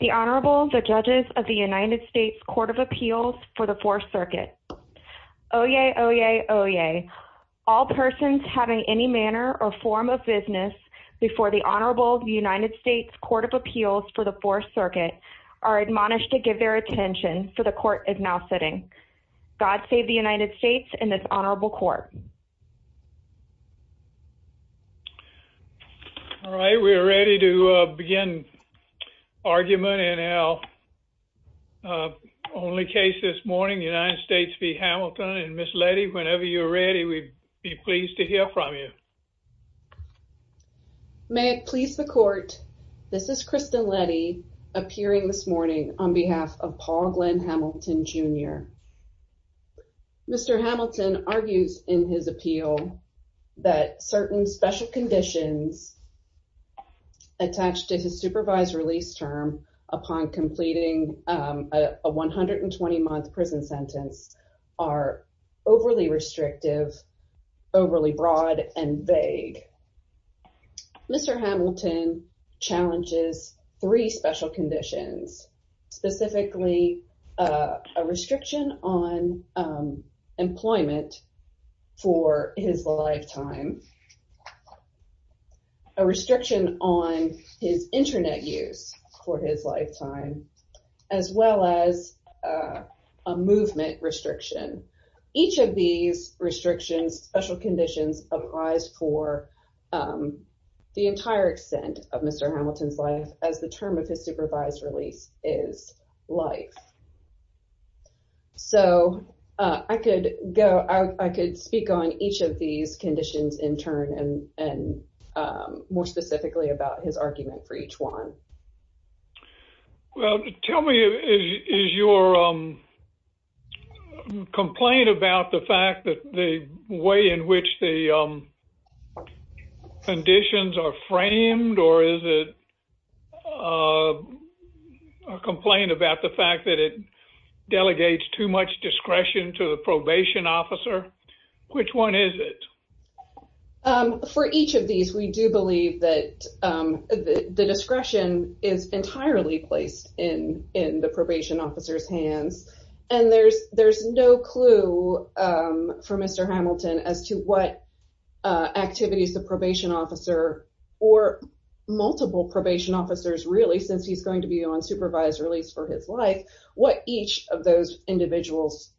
The Honorable, the Judges of the United States Court of Appeals for the 4th Circuit. Oyez, oyez, oyez. All persons having any manner or form of business before the Honorable United States Court of Appeals for the 4th Circuit are admonished to give their attention for the Court is now sitting. God save the United States and this Honorable Court. All right, we are ready to begin argument in our only case this morning, United States v. Hamilton. And Ms. Letty, whenever you're ready, we'd be pleased to hear from you. May it please the Court, this is Kristen Letty appearing this morning on behalf of Paul Glenn Hamilton, Jr. Mr. Hamilton argues in his appeal that certain special conditions attached to his supervised release term upon completing a 120-month prison sentence are overly restrictive, overly broad, and vague. Mr. Hamilton challenges three special conditions, specifically a restriction on employment for his lifetime, a restriction on his internet use for his lifetime, as well as a movement restriction. Each of these restrictions, special conditions, applies for the entire extent of Mr. Hamilton's life as the term of his supervised release is life. So I could speak on each of these conditions in turn and more specifically about his argument for each one. Well, tell me, is your complaint about the fact that the way in which the conditions are framed or is it a complaint about the fact that it delegates too much discretion to the probation officer? Which one is it? For each of these, we do believe that the discretion is entirely placed in the probation officer's hands and there's no clue for Mr. Hamilton as to what activities the probation officer or multiple probation officers really, since he's going to be on supervised release for his life, what each of those individuals,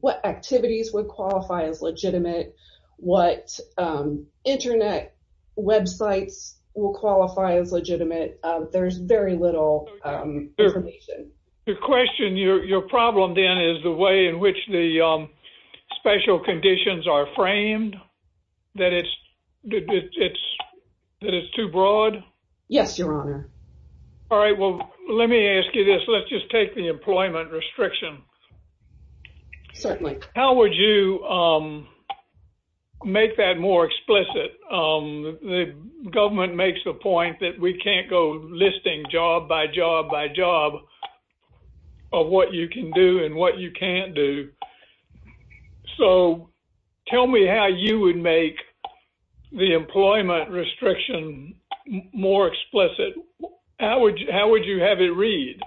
what activities would qualify as legitimate, what internet websites will qualify as legitimate. There's very little information. Your question, your problem then is the way in which the special conditions are framed, that it's too broad? Yes, your honor. All right, well, let me ask you this. Let's just take the employment restriction. Certainly. How would you make that more explicit? The government makes the point that we can't go listing job by job by job of what you can do and what you can't do. So tell me how you would make the employment restriction more explicit. How would you have it read?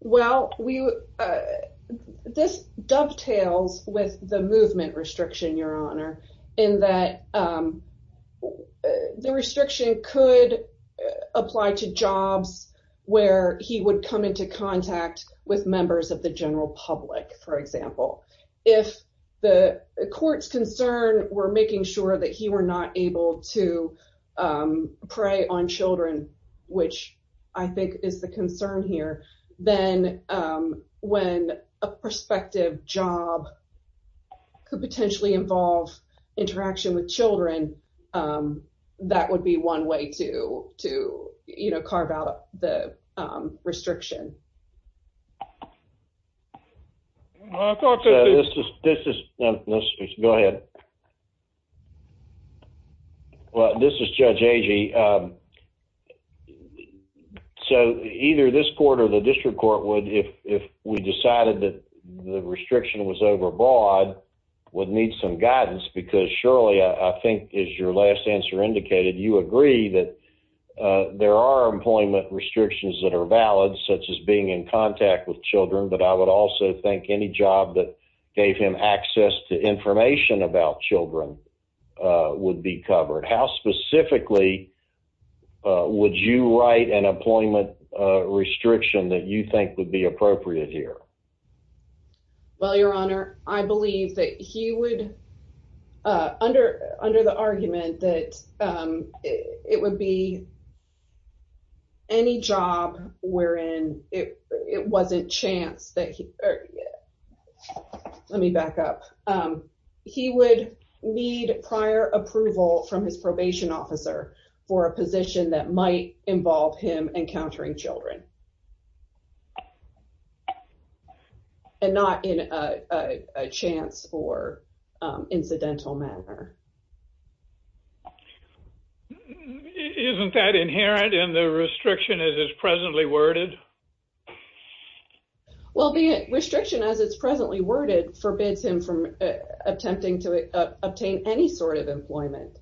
Well, this dovetails with the movement restriction, your honor, in that the restriction could apply to jobs where he would come into contact with members of the general public, for example. If the court's concern were making sure that he were not able to prey on children, which I think is the concern here, then when a prospective job could potentially involve interaction with children, that would be one way to carve out the restriction. I thought that this is... Go ahead. This is Judge Agee. So either this court or the district court would, if we decided that the restriction was overbroad, would need some guidance. Because surely, I think as your last answer indicated, you agree that there are employment restrictions that are valid, such as being in contact with children. But I would also think any job that gave him access to information about children would be covered. How specifically would you write an employment restriction that you think would be appropriate here? Well, your honor, I believe that he would, under the argument that it would be any job wherein it was a chance that he... Let me back up. He would need prior approval from his probation officer for a position that might involve him encountering children. And not in a chance or incidental manner. Isn't that inherent in the restriction as it's presently worded? Well, the restriction as it's presently worded forbids him from attempting to obtain any sort of employment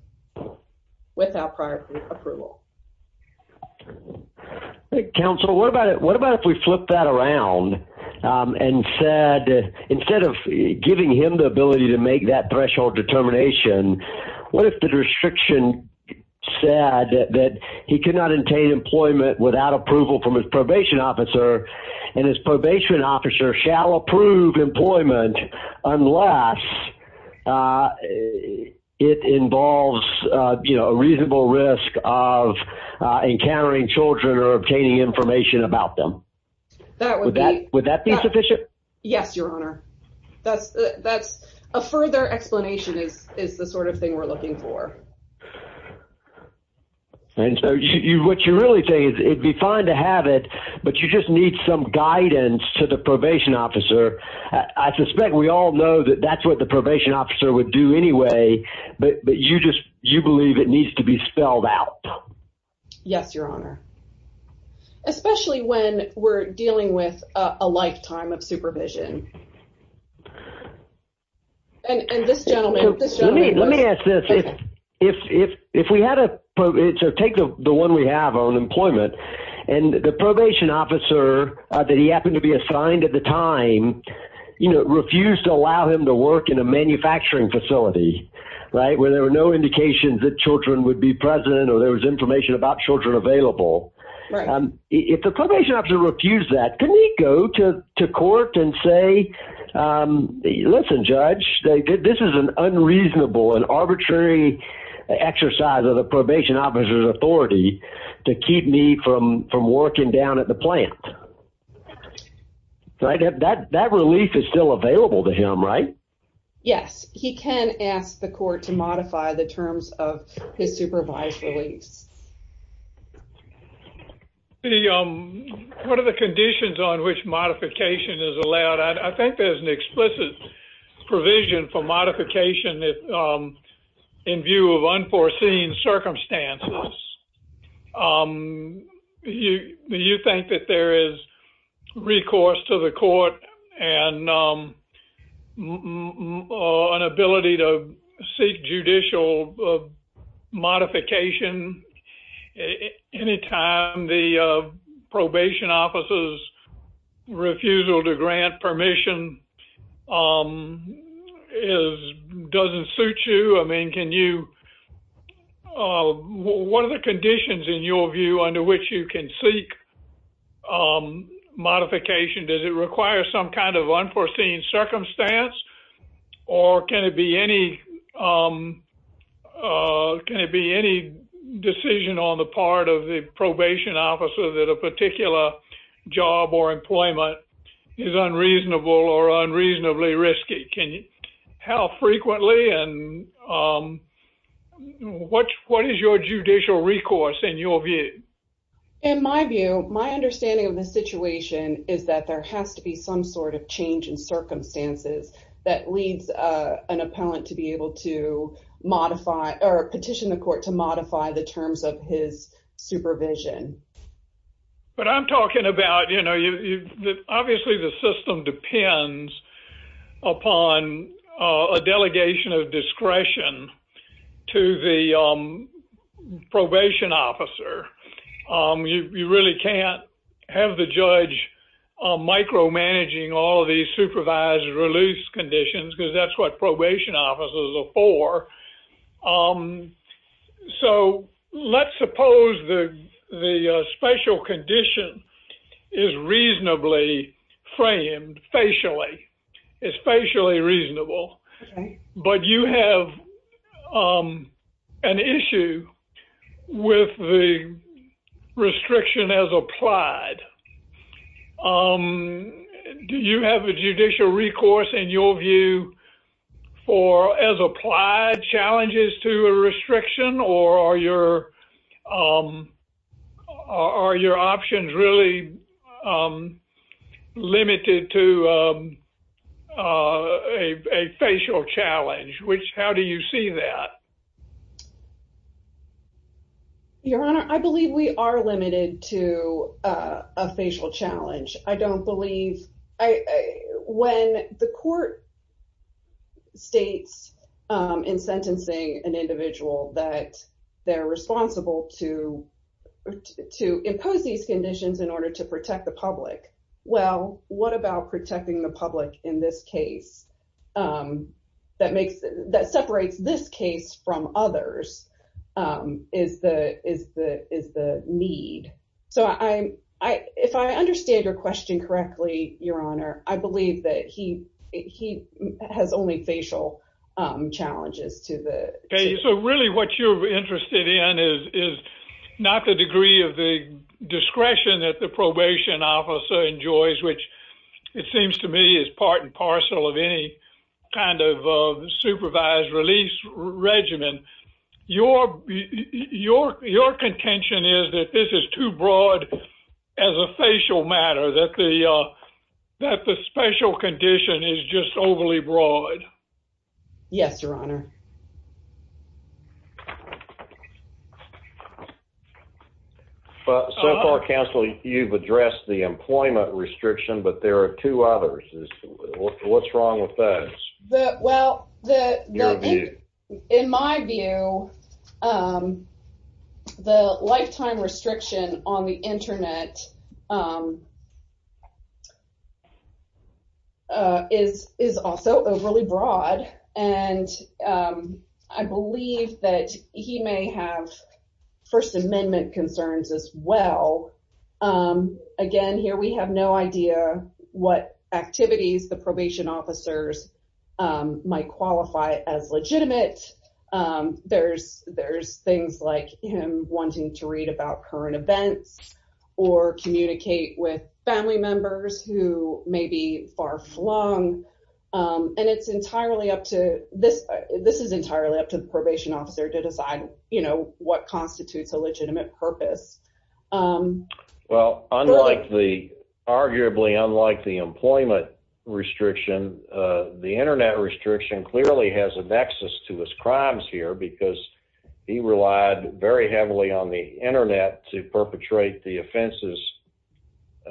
without prior approval. Counsel, what about if we flip that around and said, instead of giving him the ability to make that threshold determination, what if the restriction said that he could not obtain employment without approval from his probation officer and his probation officer shall approve employment unless it involves a reasonable risk of encountering children or obtaining information about them? Would that be sufficient? Yes, your honor. That's a further explanation is the sort of thing we're looking for. And so what you're really saying is it'd be fine to have it, but you just need some guidance to the probation officer. I suspect we all know that that's what the probation officer would do anyway, but you just, you believe it needs to be spelled out. Yes, your honor. Especially when we're dealing with a lifetime of supervision. And this gentleman, let me ask this. If, if, if we had to take the one we have on employment and the probation officer that he happened to be assigned at the time, you know, refused to allow him to work in a manufacturing facility, right? Where there were no indications that children would be present or there was information about children available. If the probation officer refused that, couldn't he go to court and say, listen, judge, this is an unreasonable and arbitrary exercise of the probation officer's authority to keep me from working down at the plant. That relief is still available to him, right? Yes, he can ask the court to modify the terms of his supervised release. The, um, what are the conditions on which modification is allowed? I think there's an explicit provision for modification that, um, in view of unforeseen circumstances, um, you, you think that there is recourse to the court and, um, or an ability to seek judicial modification any time the, uh, probation officer's refusal to grant permission, um, is, doesn't suit you. I mean, can you, uh, what are the conditions in your view under which you can seek, um, modification? Does it require some kind of unforeseen circumstance or can it be any, um, uh, can it be any decision on the part of the probation officer that a particular job or employment is unreasonable or unreasonably risky? Can you, how frequently and, um, what, what is your judicial recourse in your view? In my view, my understanding of the situation is that there has to be some sort of change in circumstances that leads, uh, an appellant to be able to modify or petition the court to modify the terms of his supervision. But I'm talking about, you know, you, you, obviously the system depends upon, uh, a You, you really can't have the judge, um, micromanaging all of these supervised release conditions because that's what probation officers are for. Um, so let's suppose the, the, uh, special condition is reasonably framed facially, especially reasonable, but you have, um, an issue with the restriction as applied. Um, do you have a judicial recourse in your view for as applied challenges to a restriction or are your, um, are your options really, um, limited to, um, uh, a, a facial challenge, which, how do you see that? Your Honor, I believe we are limited to, uh, a facial challenge. I don't believe I, when the court states, um, in sentencing an individual that they're responsible to, to impose these conditions in order to protect the public. Well, what about protecting the public in this case, um, that makes, that separates this case from others, um, is the, is the, is the need. So I, I, if I understand your question correctly, Your Honor, I believe that he, he has only facial, um, challenges to the case. So really what you're interested in is, is not the degree of the discretion that the probation officer enjoys, which it seems to me is part and parcel of any kind of, uh, supervised release regimen. Your, your, your contention is that this is too broad as a facial matter that the, uh, that the special condition is just overly broad. Yes, Your Honor. So far, counsel, you've addressed the employment restriction, but there are two others. What's wrong with those? Well, the, the, in my view, um, the lifetime restriction on the internet, um, uh, is, is also overly broad. And, um, I believe that he may have first amendment concerns as well. Um, again, here we have no idea what activities the probation officers, um, might qualify as legitimate. Um, there's, there's things like him wanting to read about current events or communicate with family members who may be far flung. Um, and it's entirely up to this, this is entirely up to the probation officer to decide, you know, what constitutes a legitimate purpose. Um, well, unlike the arguably, unlike the employment restriction, uh, the internet restriction clearly has a nexus to his crimes here because he relied very heavily on the internet to perpetrate the offenses,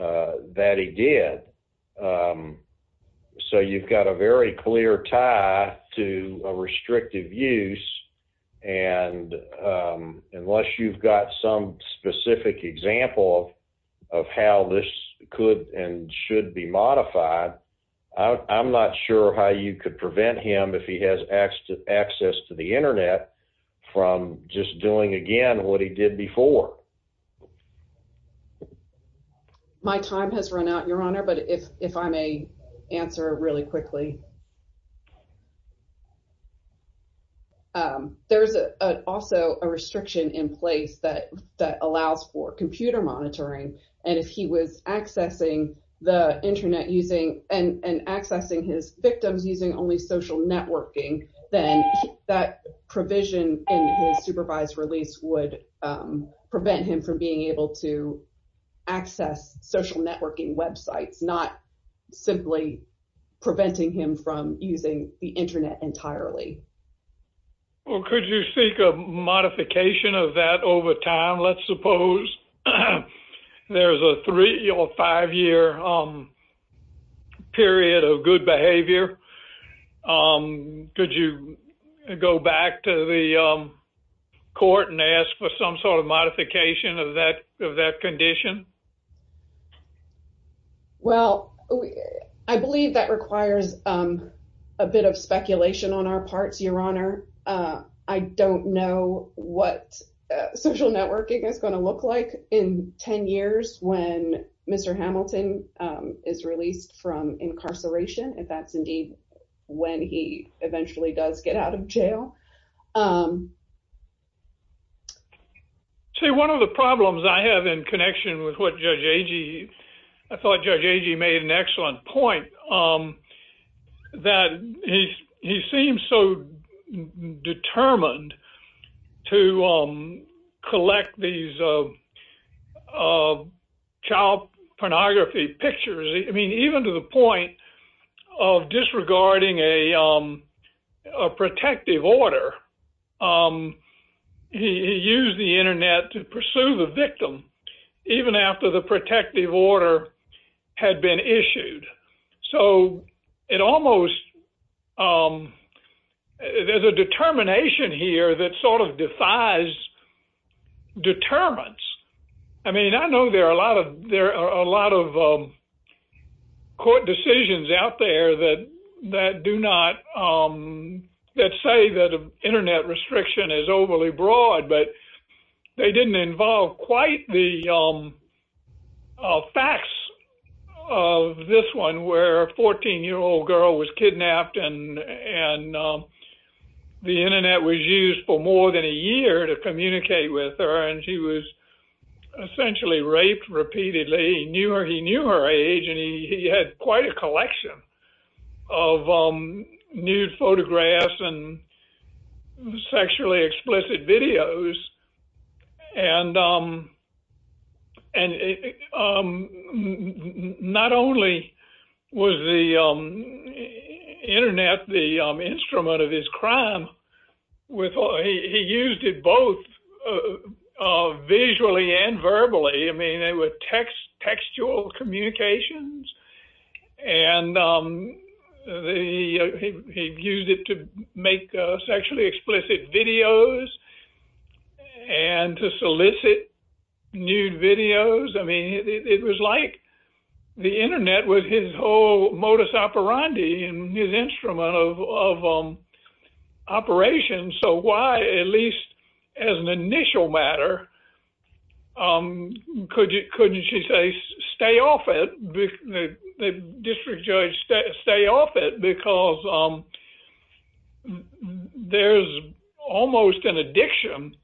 uh, that he did. Um, so you've got a very clear tie to a restrictive use. And, um, unless you've got some specific example of, of how this could and should be modified, I'm not sure how you could prevent him if he has access to the internet from just doing again, what he did before. My time has run out your honor, but if, if I may answer really quickly. Um, there's a, uh, also a restriction in place that, that allows for computer monitoring. And if he was accessing the internet using and, and accessing his victims using only social networking, then that provision in his supervised release would, um, prevent him from being able to access social networking websites, not simply preventing him from accessing from using the internet entirely. Well, could you speak of modification of that over time? Let's suppose there's a three or five year, um, period of good behavior. Um, could you go back to the court and ask for some sort of modification of that, of that condition? Well, I believe that requires, um, a bit of speculation on our parts, your honor. Uh, I don't know what social networking is going to look like in 10 years when Mr. Hamilton, um, is released from incarceration. If that's indeed when he eventually does get out of jail. Um, say one of the problems I have in connection with what Judge Agee, I thought Judge Agee made an excellent point. Um, that he, he seems so determined to, um, collect these, uh, uh, child pornography pictures. I mean, even to the point of disregarding a, um, a protective order, um, he used the internet to pursue the victim even after the protective order had been issued. So it almost, um, there's a determination here that sort of defies determinants. I mean, I know there are a lot of, there are a lot of, um, court decisions out there that, that do not, um, that say that internet restriction is overly broad, but they didn't involve quite the, um, uh, facts of this one where a 14 year old girl was kidnapped and, and, um, the internet was used for more than a year to communicate with her. And she was essentially raped repeatedly, knew her, he knew her age, and he had quite a collection of, um, nude photographs and sexually explicit videos. And, um, and, um, not only was the, um, internet the, um, instrument of his crime with, he used it both, uh, uh, visually and verbally. I mean, they were text, textual communications and, um, the, uh, he, he used it to make, uh, sexually explicit videos and to solicit nude videos. I mean, it was like the internet was his whole modus operandi and his instrument of, of, um, operation. So why, at least as an initial matter, um, could you, couldn't she say, stay off it, the district judge stay off it because, um, there's almost an addiction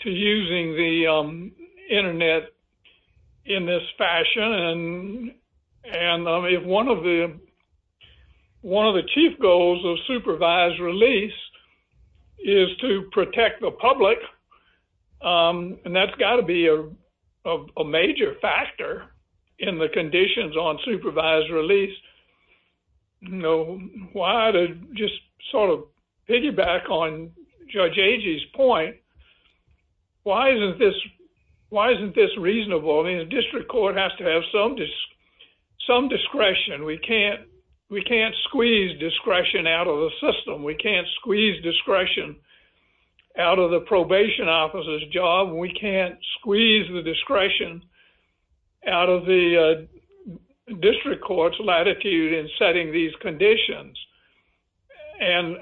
to using the, um, internet in this fashion. And, and, um, if one of the, one of the chief goals of supervised release is to protect the public, um, and that's gotta be a, a, a major factor in the conditions on supervised release, you know, why to just sort of piggyback on Judge Agee's point, why isn't this, why isn't this reasonable? I mean, the district court has to have some, some discretion. We can't, we can't squeeze discretion out of the system. We can't squeeze discretion out of the probation officer's job. We can't squeeze the discretion out of the, uh, district court's latitude in setting these conditions. And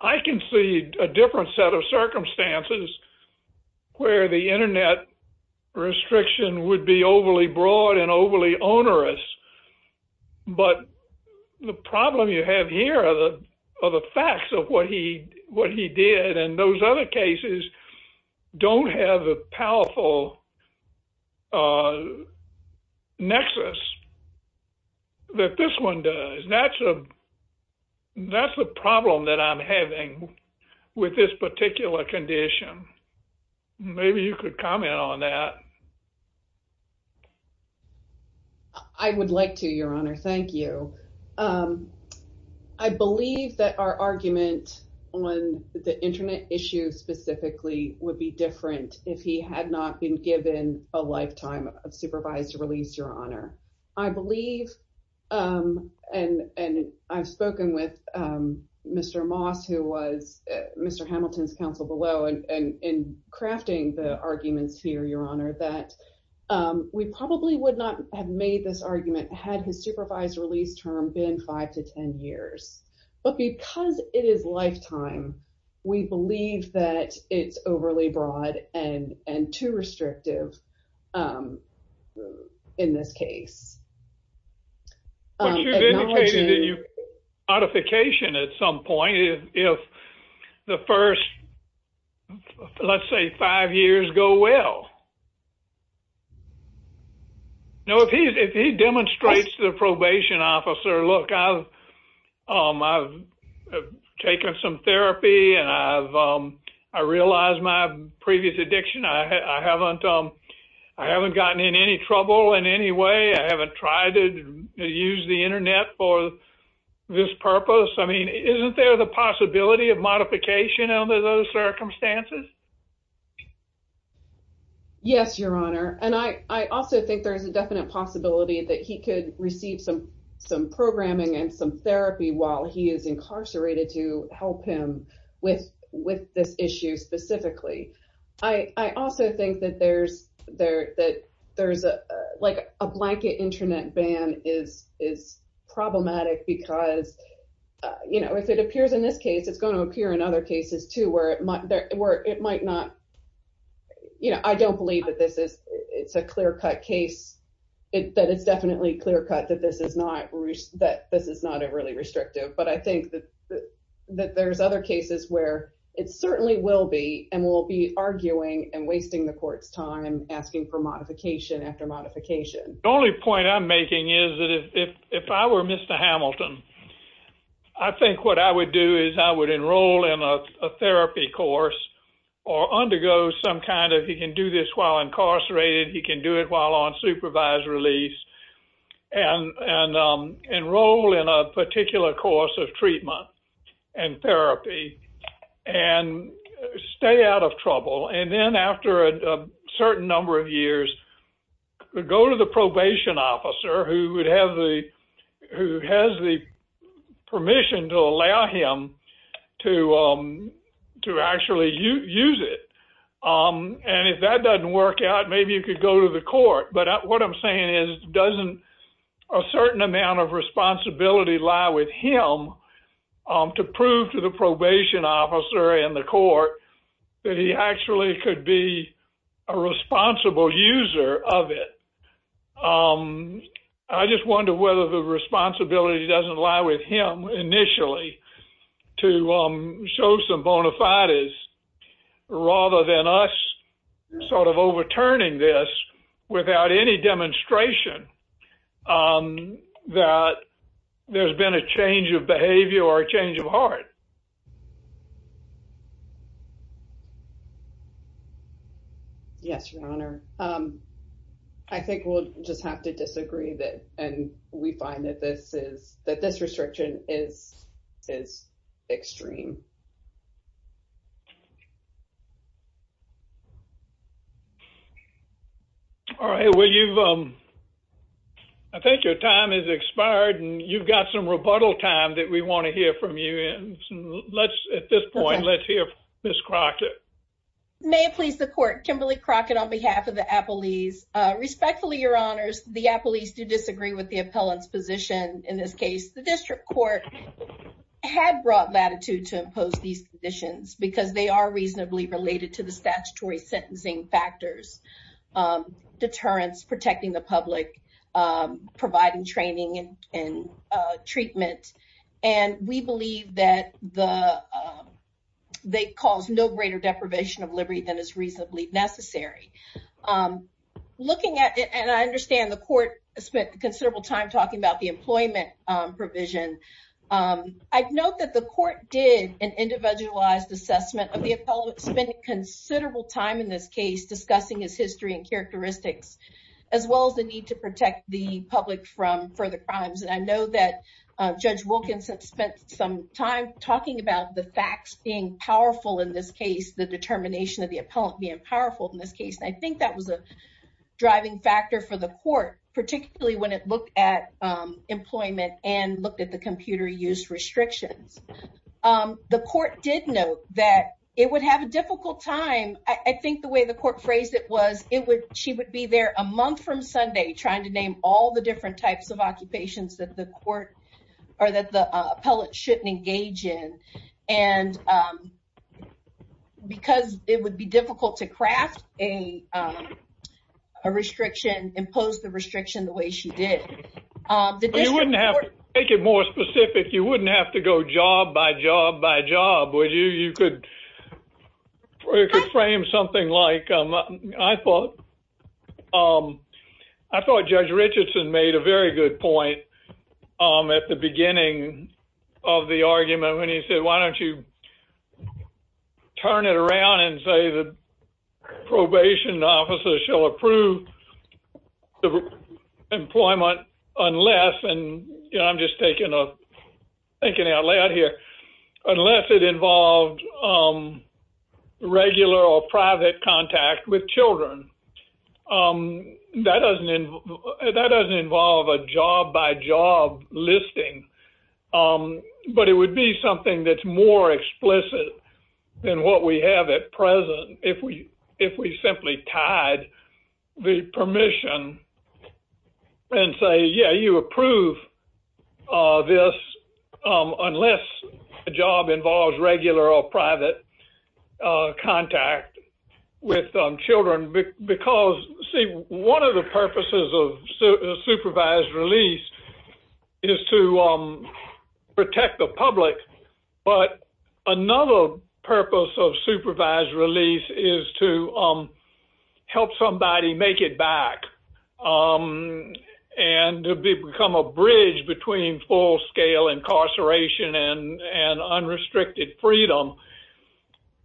I can see a different set of circumstances where the internet restriction would be overly broad and overly onerous. But the problem you have here are the, are the facts of what he, what he did and those other cases don't have the powerful, uh, nexus that this one does. That's a, that's a problem that I'm having with this particular condition. Maybe you could comment on that. I would like to, Your Honor. Thank you. Um, I believe that our argument on the internet issue specifically would be different if he had not been given a lifetime of supervised release, Your Honor. I believe, um, and, and I've spoken with, um, Mr. Moss, who was Mr. Hamilton's counsel below and, and in crafting the arguments here, Your Honor, that, um, we probably would not have made this argument had his supervised release term been five to 10 years. But because it is lifetime, we believe that it's overly broad and, and too restrictive, um, in this case. But you've indicated that you, modification at some point if, if the first, let's say five years go well. No, if he, if he demonstrates the probation officer, look, I've, um, I've taken some therapy and I've, um, I realized my previous addiction. I haven't, um, I haven't gotten in any trouble in any way. I haven't tried to use the internet for this purpose. I mean, isn't there the possibility of modification under those circumstances? Yes, Your Honor. And I, I also think there is a definite possibility that he could receive some, some programming and some therapy while he is incarcerated to help him with, with this issue specifically. I, I also think that there's, there, that there's a, uh, like a blanket internet ban is, is problematic because, uh, you know, if it appears in this case, it's going to appear in other cases too, where it might, where it might not, you know, I don't believe that this is, it's a clear cut case. That it's definitely clear cut that this is not, that this is not a really restrictive, but I think that, that there's other cases where it certainly will be, and we'll be arguing and wasting the court's time asking for modification after modification. The only point I'm making is that if, if, if I were Mr. Hamilton, I think what I would do is I would enroll in a therapy course or undergo some kind of, he can do this while incarcerated, he can do it while on supervised release and, and, um, enroll in a course of treatment and therapy and stay out of trouble. And then after a certain number of years, go to the probation officer who would have the, who has the permission to allow him to, um, to actually use it. Um, and if that doesn't work out, maybe you could go to the court. But what I'm saying is, doesn't a certain amount of responsibility lie with him, um, to prove to the probation officer and the court that he actually could be a responsible user of it? Um, I just wonder whether the responsibility doesn't lie with him initially to, um, show some bona fides rather than us sort of overturning this without any demonstration, um, that there's been a change of behavior or a change of heart. Yes, Your Honor. Um, I think we'll just have to disagree that, and we find that this is, that this restriction is, is extreme. All right. Well, you've, um, I think your time has expired and you've got some rebuttal time that we want to hear from you. And let's, at this point, let's hear Miss Crockett. May it please the court. Kimberly Crockett on behalf of the Appellees. Respectfully, Your Honors, the Appellees do disagree with the appellant's position. In this case, the district court had brought latitude to impose these conditions because they are reasonably related to the statutory sentencing factors, um, deterrence, protecting the public, um, providing training and, and, uh, treatment. And we believe that the, um, they cause no greater deprivation of liberty than is reasonably necessary. Um, looking at it, and I understand the court spent considerable time talking about the employment, um, provision. Um, I'd note that the court did an individualized assessment of the appellant spending considerable time in this case, discussing his history and characteristics, as well as the need to protect the public from further crimes. And I know that, uh, Judge Wilkinson spent some time talking about the facts being powerful in this case, the determination of the appellant being powerful in this case. And I think that was a driving factor for the court, particularly when it looked at, um, employment and looked at the computer use restrictions. Um, the court did note that it would have a difficult time. I, I think the way the court phrased it was it would, she would be there a month from Sunday trying to name all the different types of occupations that the court, or that the appellant shouldn't engage in. And, um, because it would be difficult to craft a, um, a restriction, impose the restriction the way she did. Um, the district court— You wouldn't have, to make it more specific, you wouldn't have to go job by job by job, would you? You could, or you could frame something like, um, I thought, um, I thought Judge Richardson made a very good point, um, at the beginning of the argument when he said, why don't you turn it around and say the probation officer shall approve the employment unless, and, you know, I'm just taking a, thinking out loud here, unless it involved, um, regular or private contact with children. Um, that doesn't, that doesn't involve a job by job listing, um, but it would be something that's more explicit than what we have at present if we, if we simply tied the permission and say, yeah, you approve, uh, this, um, unless the job involves regular or private, uh, contact with, um, children because, see, one of the purposes of supervised release is to, um, protect the public, but another purpose of supervised release is to, um, help somebody make it back, um, and to become a bridge between full-scale incarceration and, and unrestricted freedom.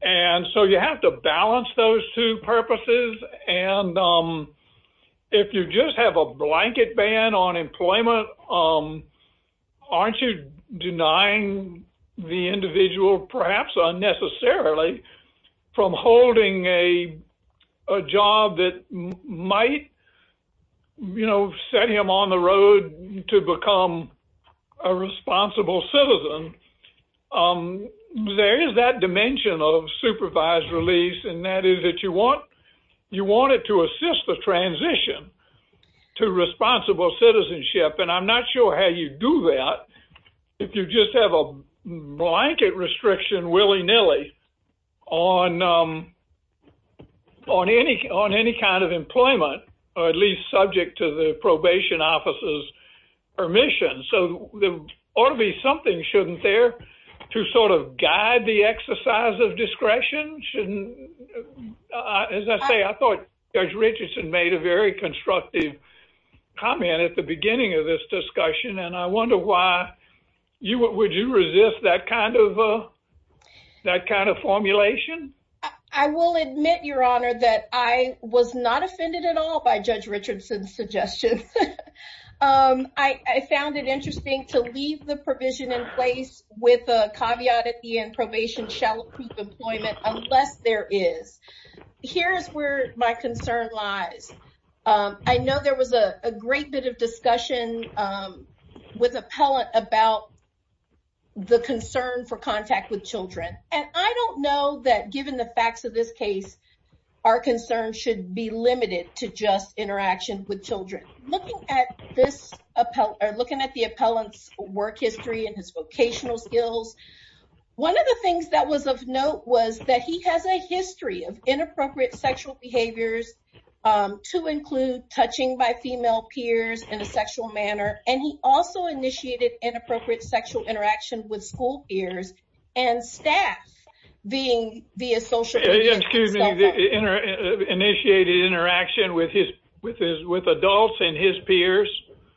And so you have to balance those two purposes. And, um, if you just have a blanket ban on employment, um, aren't you denying the individual perhaps unnecessarily from holding a, a job that might, you know, set him on the road to become a responsible citizen? Um, there is that dimension of supervised release, and that is that you want, you want it to assist the transition to responsible citizenship. And I'm not sure how you do that if you just have a blanket restriction willy-nilly on, um, on any, on any kind of employment, or at least subject to the probation officer's permission. So there ought to be something, shouldn't there, to sort of guide the exercise of discretion? Shouldn't, uh, as I say, I thought Judge Richardson made a very constructive comment at the beginning of this discussion, and I wonder why you, would you resist that kind of, that kind of formulation? I will admit, Your Honor, that I was not offended at all by Judge Richardson's suggestion. Um, I, I found it interesting to leave the provision in place with a caveat at the end, probation shall approve employment unless there is. Here's where my concern lies. Um, I know there was a great bit of discussion, um, with appellant about the concern for contact with children, and I don't know that given the facts of this case, our concern should be limited to just interaction with children. Looking at this appellant, or looking at the appellant's work history and his vocational skills, one of the things that was of note was that he has a history of inappropriate sexual behaviors, um, to include touching by sexual interaction with school peers and staff being via social. Excuse me, initiated interaction with his, with his, with adults and his peers.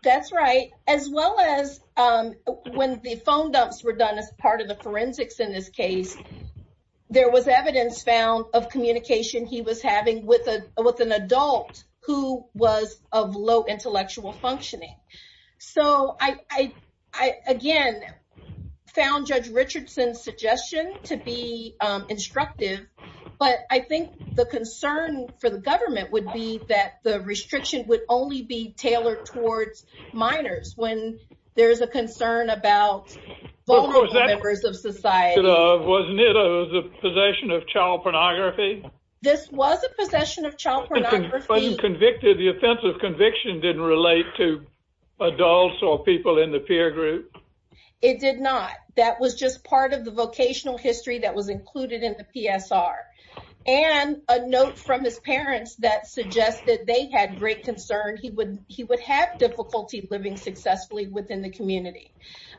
That's right, as well as, um, when the phone dumps were done as part of the forensics in this case, there was evidence found of communication he was having with a, with an adult who was of low found Judge Richardson's suggestion to be, um, instructive, but I think the concern for the government would be that the restriction would only be tailored towards minors when there's a concern about vulnerable members of society. Wasn't it a possession of child pornography? This was a possession of child pornography. Wasn't convicted, the offense of conviction didn't relate to adults or people in the peer group? It did not. That was just part of the vocational history that was included in the PSR and a note from his parents that suggested they had great concern. He would, he would have difficulty living successfully within the community.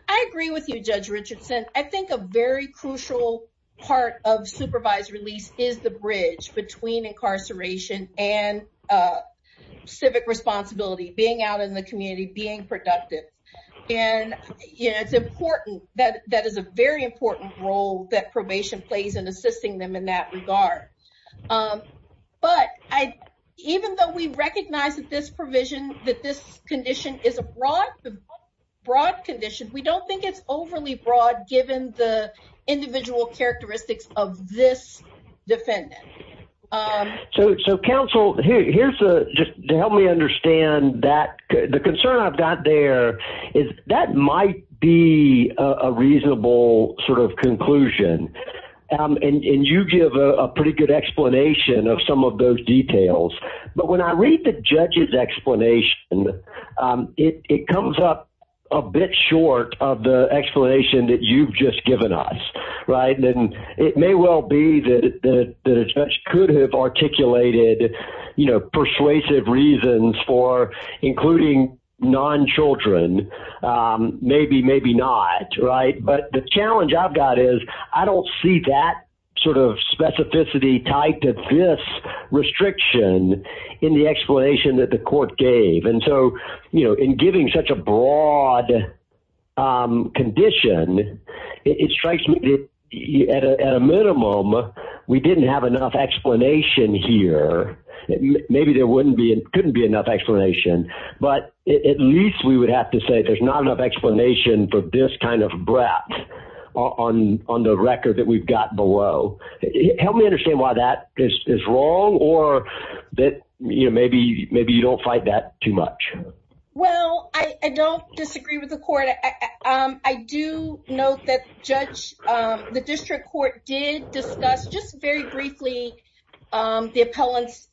I agree with you, Judge Richardson. I think a very crucial part of supervised release is the bridge between incarceration and, uh, civic responsibility, being out in the community, being productive. And yeah, it's important that that is a very important role that probation plays in assisting them in that regard. Um, but I, even though we recognize that this provision, that this condition is a broad, broad condition, we don't think it's overly broad given the defendant. Um, so, so counsel here, here's the, just to help me understand that the concern I've got there is that might be a reasonable sort of conclusion. Um, and you give a pretty good explanation of some of those details, but when I read the judge's explanation, um, it, it comes up a bit short of the explanation that you've just given us, right? And it may well be that, that a judge could have articulated, you know, persuasive reasons for including non-children, um, maybe, maybe not, right? But the challenge I've got is I don't see that sort of specificity tied to this restriction in the explanation that the court gave. And so, you know, in giving such a broad condition, it strikes me that at a minimum, we didn't have enough explanation here. Maybe there wouldn't be, couldn't be enough explanation, but at least we would have to say there's not enough explanation for this kind of breadth on, on the record that we've got below. Help me understand why that is wrong or that, you know, maybe, maybe you don't fight that too much. Well, I, I don't disagree with the court. I, um, I do note that judge, um, the district court did discuss just very briefly, um, the appellant's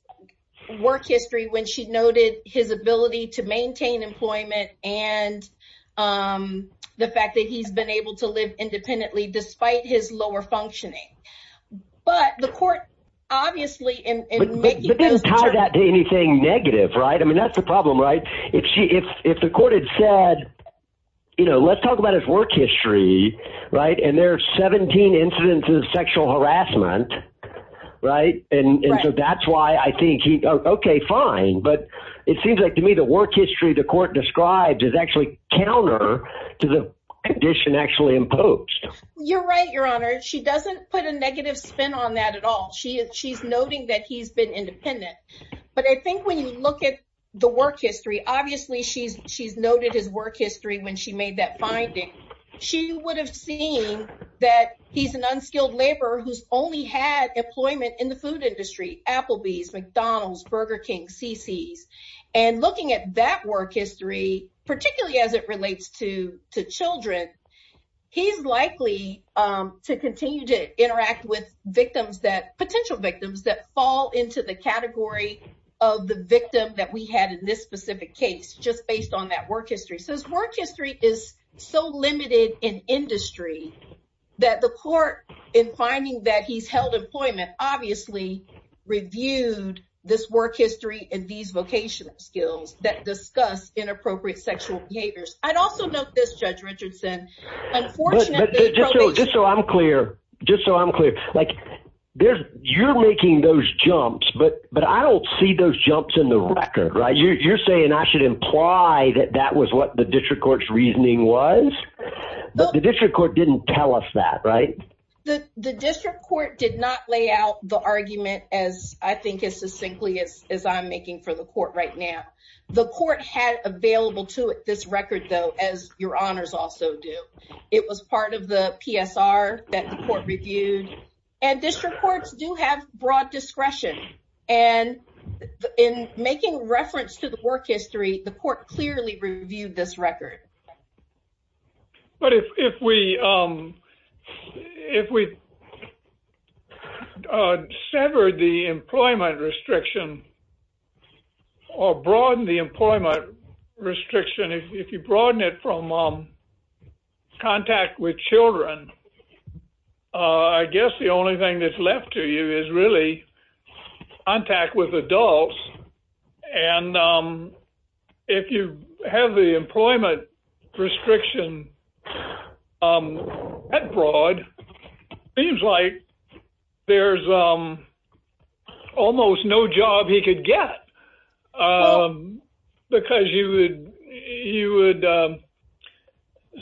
work history when she noted his ability to maintain employment and, um, the fact that he's been able to live independently despite his lower functioning. But the court, obviously in, in making- But it doesn't tie that to anything negative, right? I mean, that's the problem, right? If she, if, if the court had said, you know, let's talk about his work history, right? And there are 17 incidents of sexual harassment, right? And so that's why I think he, okay, fine. But it seems like to me, the work history the court described is actually counter to the condition actually imposed. You're right, your honor. She doesn't put a negative spin on that at all. She, when you look at the work history, obviously she's, she's noted his work history when she made that finding. She would have seen that he's an unskilled laborer who's only had employment in the food industry, Applebee's, McDonald's, Burger King, CC's. And looking at that work history, particularly as it relates to, to children, he's likely, um, to continue to victim that we had in this specific case, just based on that work history. So his work history is so limited in industry that the court, in finding that he's held employment, obviously reviewed this work history and these vocational skills that discuss inappropriate sexual behaviors. I'd also note this Judge Richardson, unfortunately- Just so I'm clear, just so I'm right. You're saying I should imply that that was what the district court's reasoning was, but the district court didn't tell us that, right? The district court did not lay out the argument as I think as succinctly as I'm making for the court right now. The court had available to it this record though, as your honors also do. It was part of the PSR that the court reviewed. And district courts do have broad discretion. And in making reference to the work history, the court clearly reviewed this record. But if we, um, if we severed the employment restriction or broaden the employment restriction, if you broaden it from um, contact with children, uh, I guess the only thing that's left to you is really contact with adults. And, um, if you have the employment restriction, um, that broad, seems like there's, um, almost no job he could get. Um, because you would, you would, um,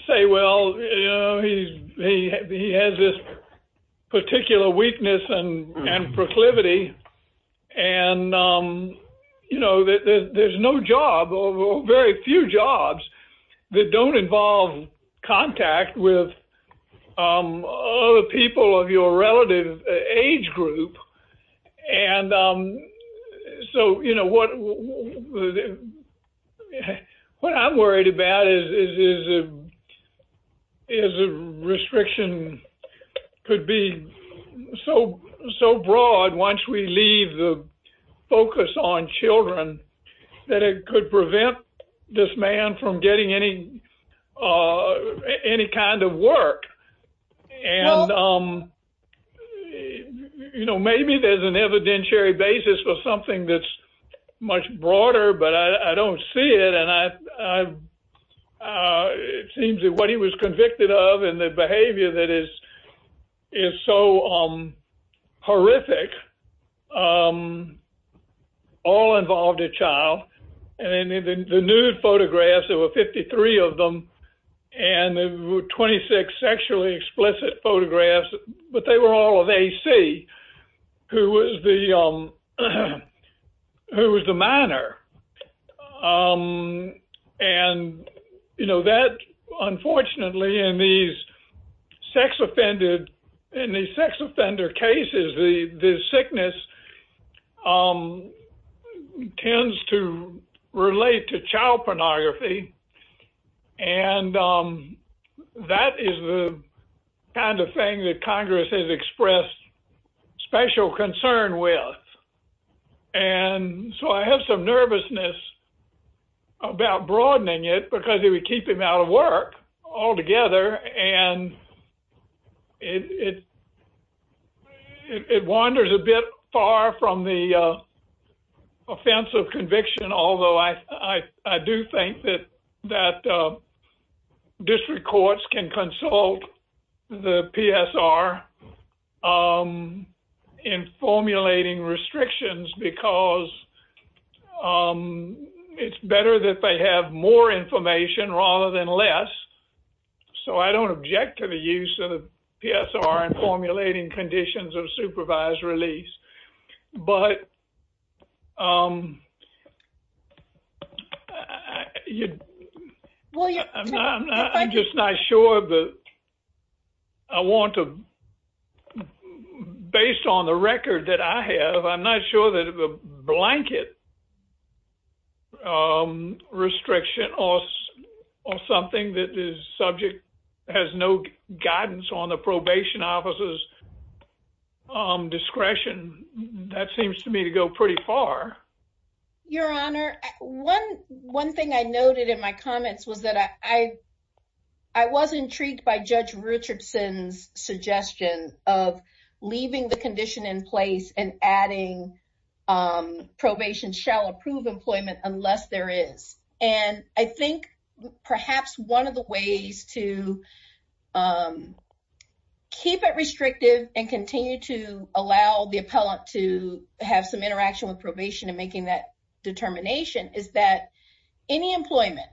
say, well, you know, he's, he, he has this particular weakness and, and proclivity. And, you know, there's no job or very few jobs that don't involve contact with, um, other people of your relative age group. And, um, so, you know, what, what I'm worried about is, is, is a, is a restriction could be so, so broad once we leave the focus on children, that it could prevent this man from getting any, uh, any kind of work. And, um, you know, maybe there's an evidentiary basis for something that's much broader, but I don't see it. And I, I, uh, it seems that what he was convicted of and the behavior that is, is so, um, horrific, um, all involved a child. And the nude photographs, there were 53 of them, and there were 26 sexually explicit photographs, but they were all of AC, who was the, um, um, and, you know, that unfortunately, in these sex offended, in the sex offender cases, the, the sickness, um, tends to relate to child pornography. And, um, that is the kind of thing that Congress has expressed special concern with. And so I have some nervousness about broadening it because it would keep him out of work altogether. And it, it, it wanders a bit far from the, uh, offensive conviction. Although I, I, I do think that, that, uh, district courts can consult the PSR, um, in formulating restrictions because, um, it's better that they have more information rather than less. So I don't object to the use of the PSR in formulating conditions of supervised release. But, um, you, I'm not, I'm just not sure that I want to, based on the record that I have, I'm not sure that the blanket, um, restriction or, or something that is subject has no guidance on the probation officer's, um, discretion. That seems to me to go pretty far. Your Honor, one, one thing I noted in my comments was that I, I, I was intrigued by probation shall approve employment unless there is. And I think perhaps one of the ways to, um, keep it restrictive and continue to allow the appellant to have some interaction with probation and making that determination is that any employment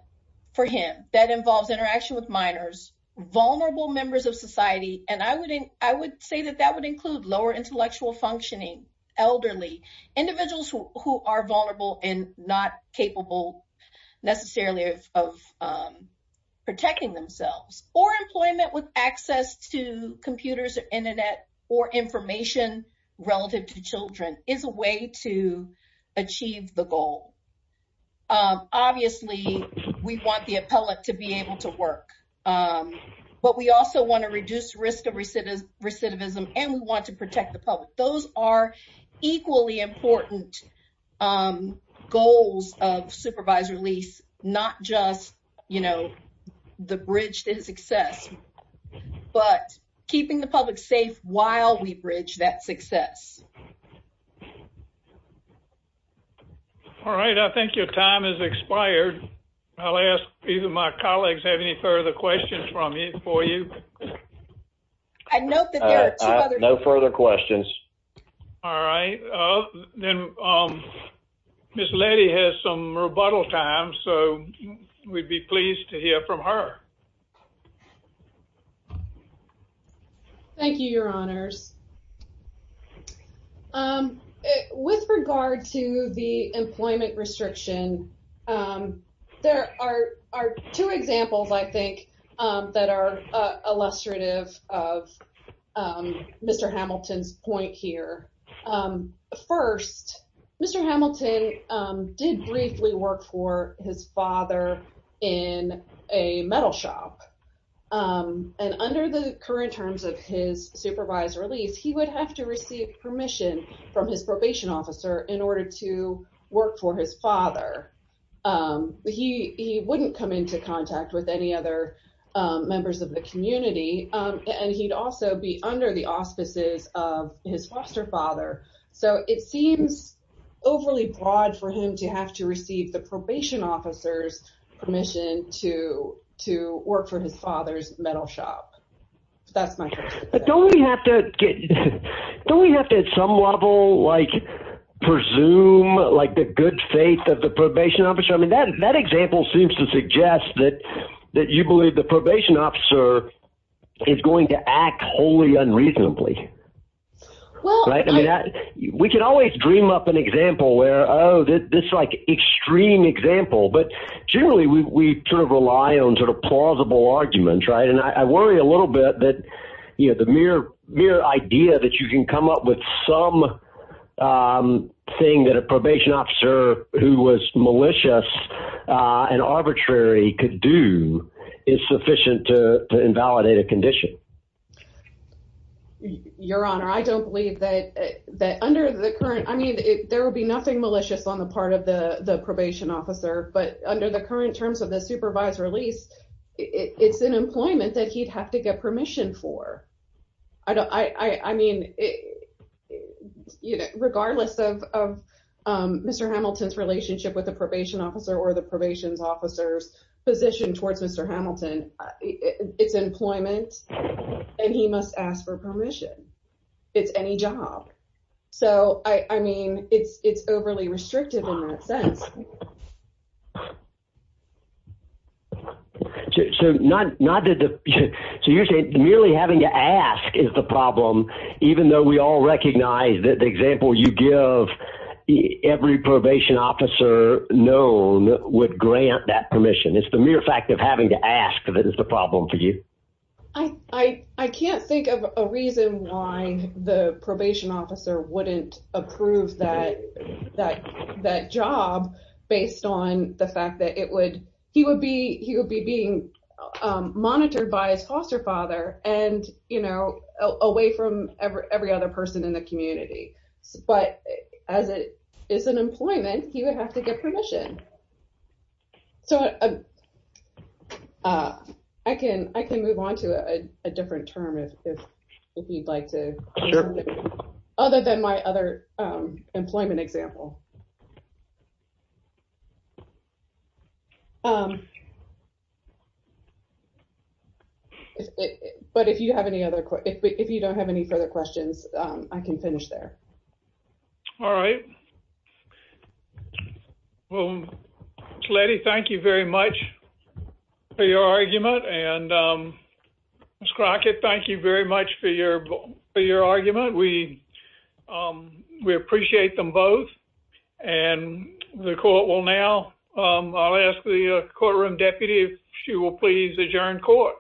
for him that involves interaction with minors, vulnerable members of society. And I would, I would say that that would include lower intellectual functioning, elderly individuals who are vulnerable and not capable necessarily of, of, um, protecting themselves or employment with access to computers or internet or information relative to children is a way to achieve the goal. Obviously we want the appellant to be able to work. Um, but we also want to reduce risk of recidivism and we want to protect the public. Those are equally important, um, goals of supervisor lease, not just, you know, the bridge to his success, but keeping the public safe while we bridge that success. All right. I think your time has expired. I'll ask, my colleagues have any further questions from you for you. I note that there are no further questions. All right. Then, um, Miss lady has some rebuttal time. So we'd be pleased to hear from her. Thank you, your honors. Um, with regard to the employment restriction, um, there are, are two examples I think, um, that are illustrative of, um, Mr. Hamilton's point here. Um, first Mr. Hamilton, um, did briefly work for his father in a metal shop. Um, and under the current terms of his supervisor, at least he would have to receive permission from his probation officer in order to work for his father. Um, he, he wouldn't come into contact with any other, um, members of the community. Um, and he'd also be under the auspices of his foster father. So it seems overly broad for him to have to receive the probation officer's permission to, to work for his father's metal shop. That's my question. Don't we have to get, don't we have to, at some level, like presume like the good faith of the probation officer? I mean, that, that example seems to suggest that, that you believe the probation officer is going to act wholly unreasonably. Well, we can always dream up an example where, Oh, this like extreme example, but generally we sort of rely on sort of plausible arguments. Right. And I worry a little bit that, you know, the mere, mere idea that you can come up with some, um, thing that a probation officer who was malicious, uh, and arbitrary could do is sufficient to invalidate a condition. Your honor, I don't believe that, that under the current, I mean, there will be nothing malicious on the part of the, the probation officer, but under the current terms of the supervisor lease, it's an employment that he'd have to get permission for. I don't, I, I mean, regardless of, um, Mr. Hamilton's relationship with the probation officer or the probation officer's position towards Mr. Hamilton, it's employment and he must ask for it's overly restrictive in that sense. So not, not that, so you're saying merely having to ask is the problem, even though we all recognize that the example you give every probation officer known would grant that permission. It's the mere fact of having to ask that is the problem for you. I, I, I can't think of a reason why the probation officer wouldn't approve that, that, that job based on the fact that it would, he would be, he would be being monitored by his foster father and, you know, away from every, every other person in the community. But as it is an employment, he would have to get permission. So, uh, uh, I can, I can move on to a different term if, if, if you'd like to, other than my other, um, employment example. Um, but if you have any other, if you don't have any further questions, um, I can finish there. All right. Well, Letty, thank you very much for your argument. And, um, Ms. Crockett, thank you very much for your, for your argument. We, um, we appreciate them both and the court will now, um, I'll ask the courtroom deputy if she will please adjourn court.